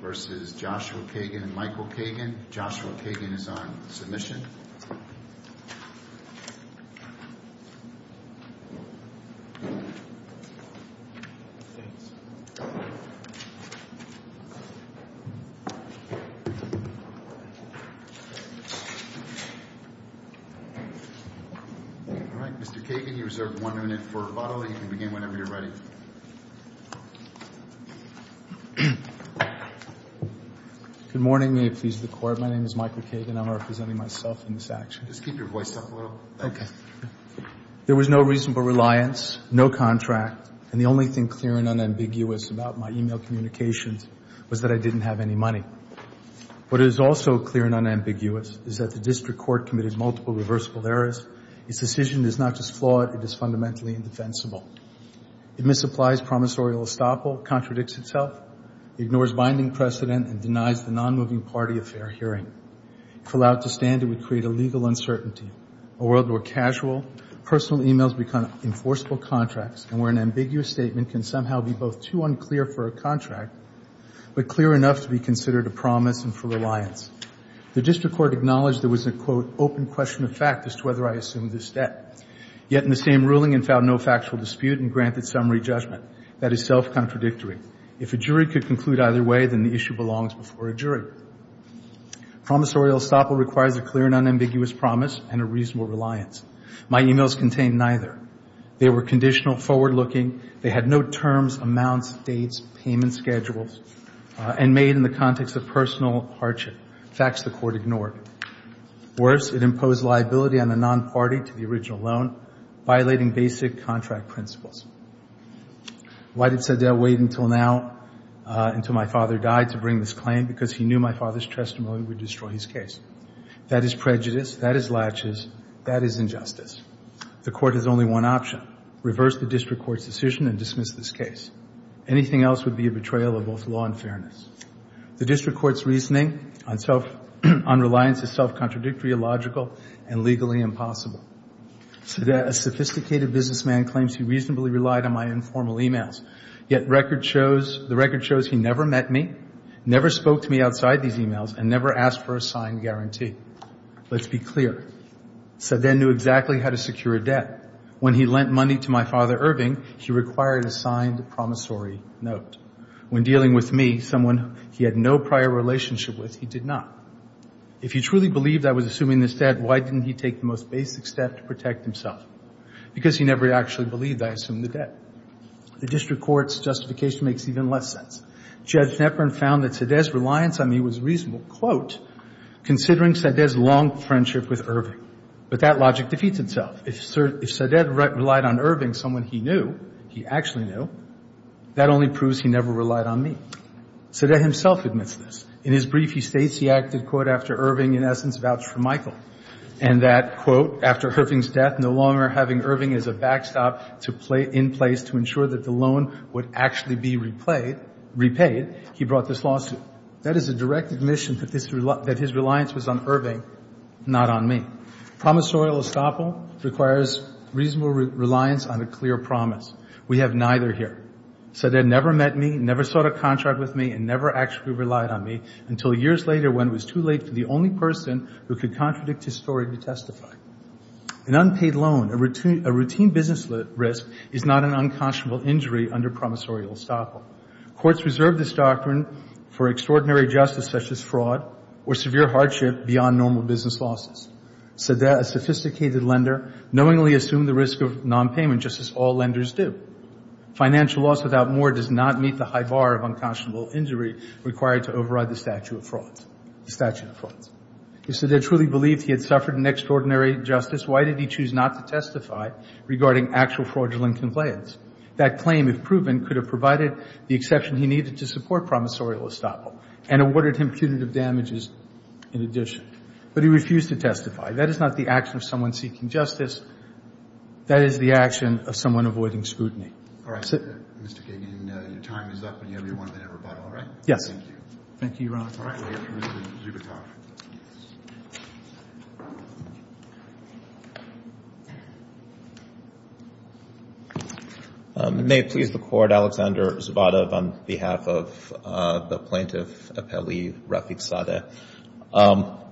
v. Joshua Kagan and Michael Kagan. Joshua Kagan is on submission. All right. Mr. Kagan, you reserve one minute for rebuttal, and you can begin whenever you're ready. Good morning. May it please the Court. My name is Michael Kagan. I'm representing myself in this action. Just keep your voice up a little. Okay. There was no reasonable reliance, no contract, and the only thing clear and unambiguous about my e-mail communications was that I didn't have any money. What is also clear and unambiguous is that the district court committed multiple reversible errors. Its decision is not just flawed, it is fundamentally indefensible. It misapplies promissorial estoppel, contradicts itself, ignores binding precedent, and denies the nonmoving party a fair hearing. If allowed to stand, it would create a legal uncertainty, a world where casual, personal e-mails become enforceable contracts and where an ambiguous statement can somehow be both too unclear for a contract but clear enough to be considered a promise and for reliance. The district court acknowledged there was an, quote, open question of fact as to whether I assumed this debt, yet in the same ruling it found no factual dispute and granted summary judgment. That is self-contradictory. If a jury could conclude either way, then the issue belongs before a jury. Promissorial estoppel requires a clear and unambiguous promise and a reasonable reliance. My e-mails contained neither. They were conditional, forward-looking. They had no terms, amounts, dates, payment schedules, and made in the context of personal hardship, facts the court ignored. Worse, it imposed liability on the nonparty to the original loan, violating basic contract principles. Why did Sedell wait until now, until my father died, to bring this claim? Because he knew my father's testimony would destroy his case. That is prejudice. That is latches. That is injustice. The court has only one option. Reverse the district court's decision and dismiss this case. Anything else would be a betrayal of both law and fairness. The district court's reasoning on reliance is self-contradictory, illogical, and legally impossible. Sedell, a sophisticated businessman, claims he reasonably relied on my informal e-mails. Yet the record shows he never met me, never spoke to me outside these e-mails, and never asked for a signed guarantee. Let's be clear. Sedell knew exactly how to secure a debt. When he lent money to my father, Irving, he required a signed promissory note. When dealing with me, someone he had no prior relationship with, he did not. If he truly believed I was assuming this debt, why didn't he take the most basic step to protect himself? Because he never actually believed I assumed the debt. The district court's justification makes even less sense. Judge Knepper found that Sedell's reliance on me was reasonable, quote, considering Sedell's long friendship with Irving. But that logic defeats itself. If Sedell relied on Irving, someone he knew, he actually knew, that only proves he never relied on me. Sedell himself admits this. In his brief, he states he acted, quote, after Irving, in essence, vouched for Michael. And that, quote, after Irving's death, no longer having Irving as a backstop in place to ensure that the loan would actually be repaid, he brought this lawsuit. That is a direct admission that his reliance was on Irving, not on me. Promissorial estoppel requires reasonable reliance on a clear promise. We have neither here. Sedell never met me, never sought a contract with me, and never actually relied on me until years later when it was too late for the only person who could contradict his story to testify. An unpaid loan, a routine business risk, is not an unconscionable injury under promissorial estoppel. Courts reserve this doctrine for extraordinary justice such as fraud or severe hardship beyond normal business losses. Sedell, a sophisticated lender, knowingly assumed the risk of nonpayment just as all lenders do. Financial loss without more does not meet the high bar of unconscionable injury required to override the statute of frauds. If Sedell truly believed he had suffered an extraordinary justice, why did he choose not to testify regarding actual fraudulent complaints? That claim, if proven, could have provided the exception he needed to support promissorial estoppel and awarded him punitive damages in addition. But he refused to testify. That is not the action of someone seeking justice. That is the action of someone avoiding scrutiny. Mr. Kagan, your time is up, and you have your one minute rebuttal, all right? Yes. Thank you. Thank you, Your Honor. All right. Mr. Zubitoff. May it please the Court, Alexander Zubitoff, on behalf of the Plaintiff Appellee Rafidzadeh.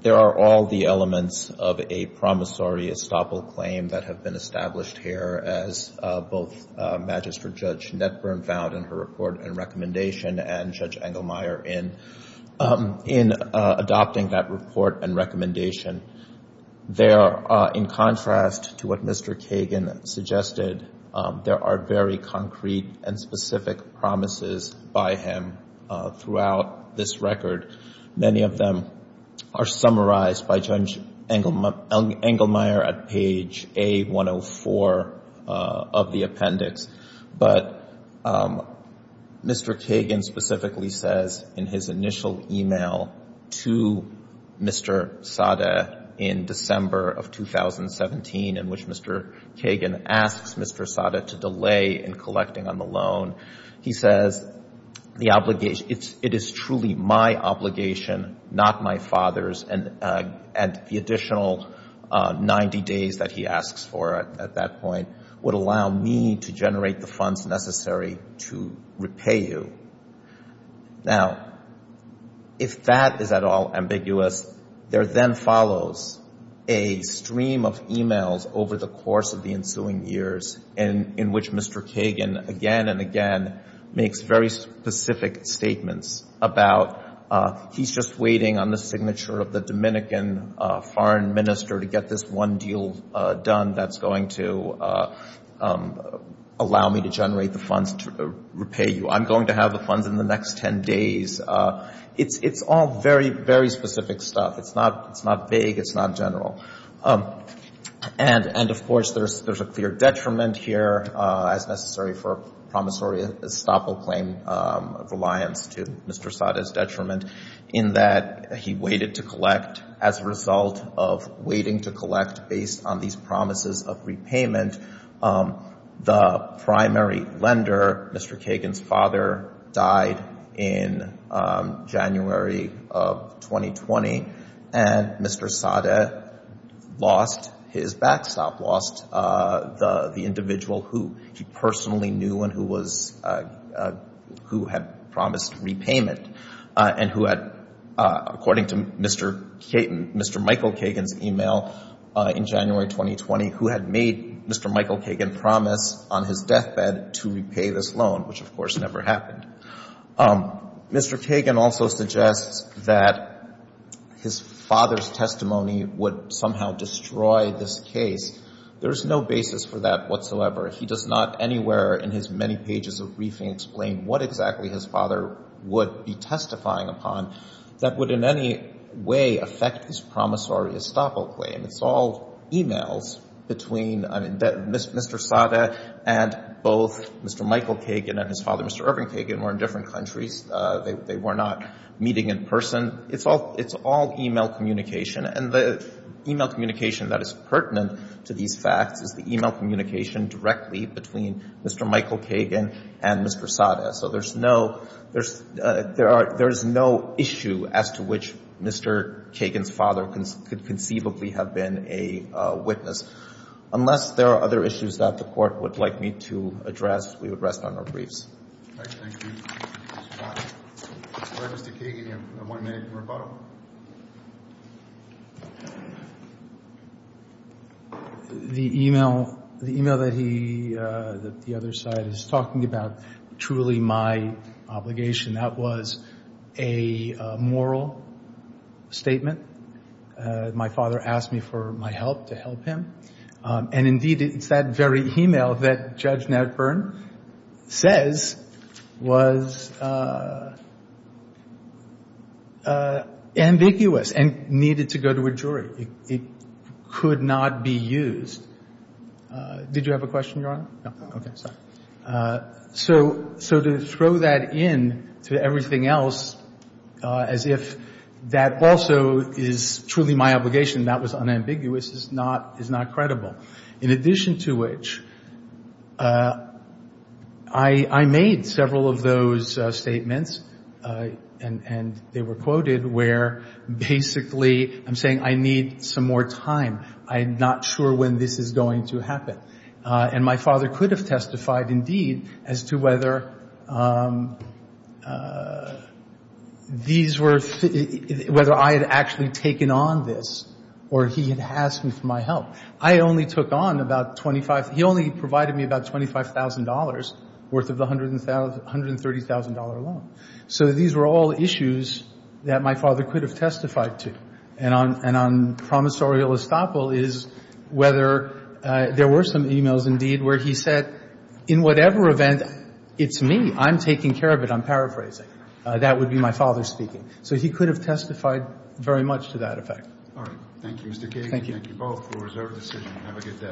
There are all the elements of a promissory estoppel claim that have been established here as both Magistrate Judge Netburn found in her report and recommendation and Judge Engelmeyer in adopting that report and recommendation. There, in contrast to what Mr. Kagan suggested, there are very concrete and specific promises by him throughout this record and many of them are summarized by Judge Engelmeyer at page A-104 of the appendix. But Mr. Kagan specifically says in his initial e-mail to Mr. Sada in December of 2017, in which Mr. Kagan asks Mr. Sada to delay in collecting on the loan, he says it is truly my obligation, not my father's, and the additional 90 days that he asks for at that point would allow me to generate the funds necessary to repay you. Now, if that is at all ambiguous, there then follows a stream of e-mails over the course of the ensuing years in which Mr. Kagan again and again makes very specific statements about, he's just waiting on the signature of the Dominican foreign minister to get this one deal done that's going to allow me to generate the funds to repay you. I'm going to have the funds in the next 10 days. It's all very, very specific stuff. It's not vague. It's not general. And, of course, there's a clear detriment here, as necessary for promissory estoppel claim reliance to Mr. Sada's detriment, in that he waited to collect. As a result of waiting to collect based on these promises of repayment, the primary lender, Mr. Kagan's father, died in January of 2020, and Mr. Sada lost his backstop, lost the individual who he personally knew and who had promised repayment and who had, according to Mr. Michael Kagan's e-mail in January 2020, who had made Mr. Michael Kagan promise on his deathbed to repay this loan, which, of course, never happened. Mr. Kagan also suggests that his father's testimony would somehow destroy this case. There is no basis for that whatsoever. He does not anywhere in his many pages of briefing explain what exactly his father would be testifying upon that would in any way affect his promissory estoppel claim. It's all e-mails between Mr. Sada and both Mr. Michael Kagan and his father, Mr. Irving Kagan, who are in different countries. They were not meeting in person. It's all e-mail communication, and the e-mail communication that is pertinent to these facts is the e-mail communication directly between Mr. Michael Kagan and Mr. Sada. So there's no issue as to which Mr. Kagan's father could conceivably have been a witness. Unless there are other issues that the Court would like me to address, we would rest on our briefs. All right. Thank you. All right, Mr. Kagan, you have one minute for rebuttal. The e-mail, the e-mail that he, that the other side is talking about, truly my obligation, that was a moral statement. My father asked me for my help to help him. And indeed, it's that very e-mail that Judge Ned Byrne says was ambiguous and needed to go to a jury. It could not be used. Did you have a question, Your Honor? No. Okay, sorry. So to throw that in to everything else as if that also is truly my obligation, that was unambiguous, is not credible. In addition to which, I made several of those statements and they were quoted where basically I'm saying I need some more time. I'm not sure when this is going to happen. And my father could have testified indeed as to whether these were, whether I had actually taken on this or he had asked me for my help. I only took on about $25,000. He only provided me about $25,000 worth of the $130,000 loan. So these were all issues that my father could have testified to. And on promissorial estoppel is whether there were some e-mails indeed where he said, in whatever event, it's me. I'm taking care of it. I'm paraphrasing. That would be my father speaking. So he could have testified very much to that effect. All right. Thank you, Mr. Kagan. Thank you. Thank you both for a reserved decision. Have a good day.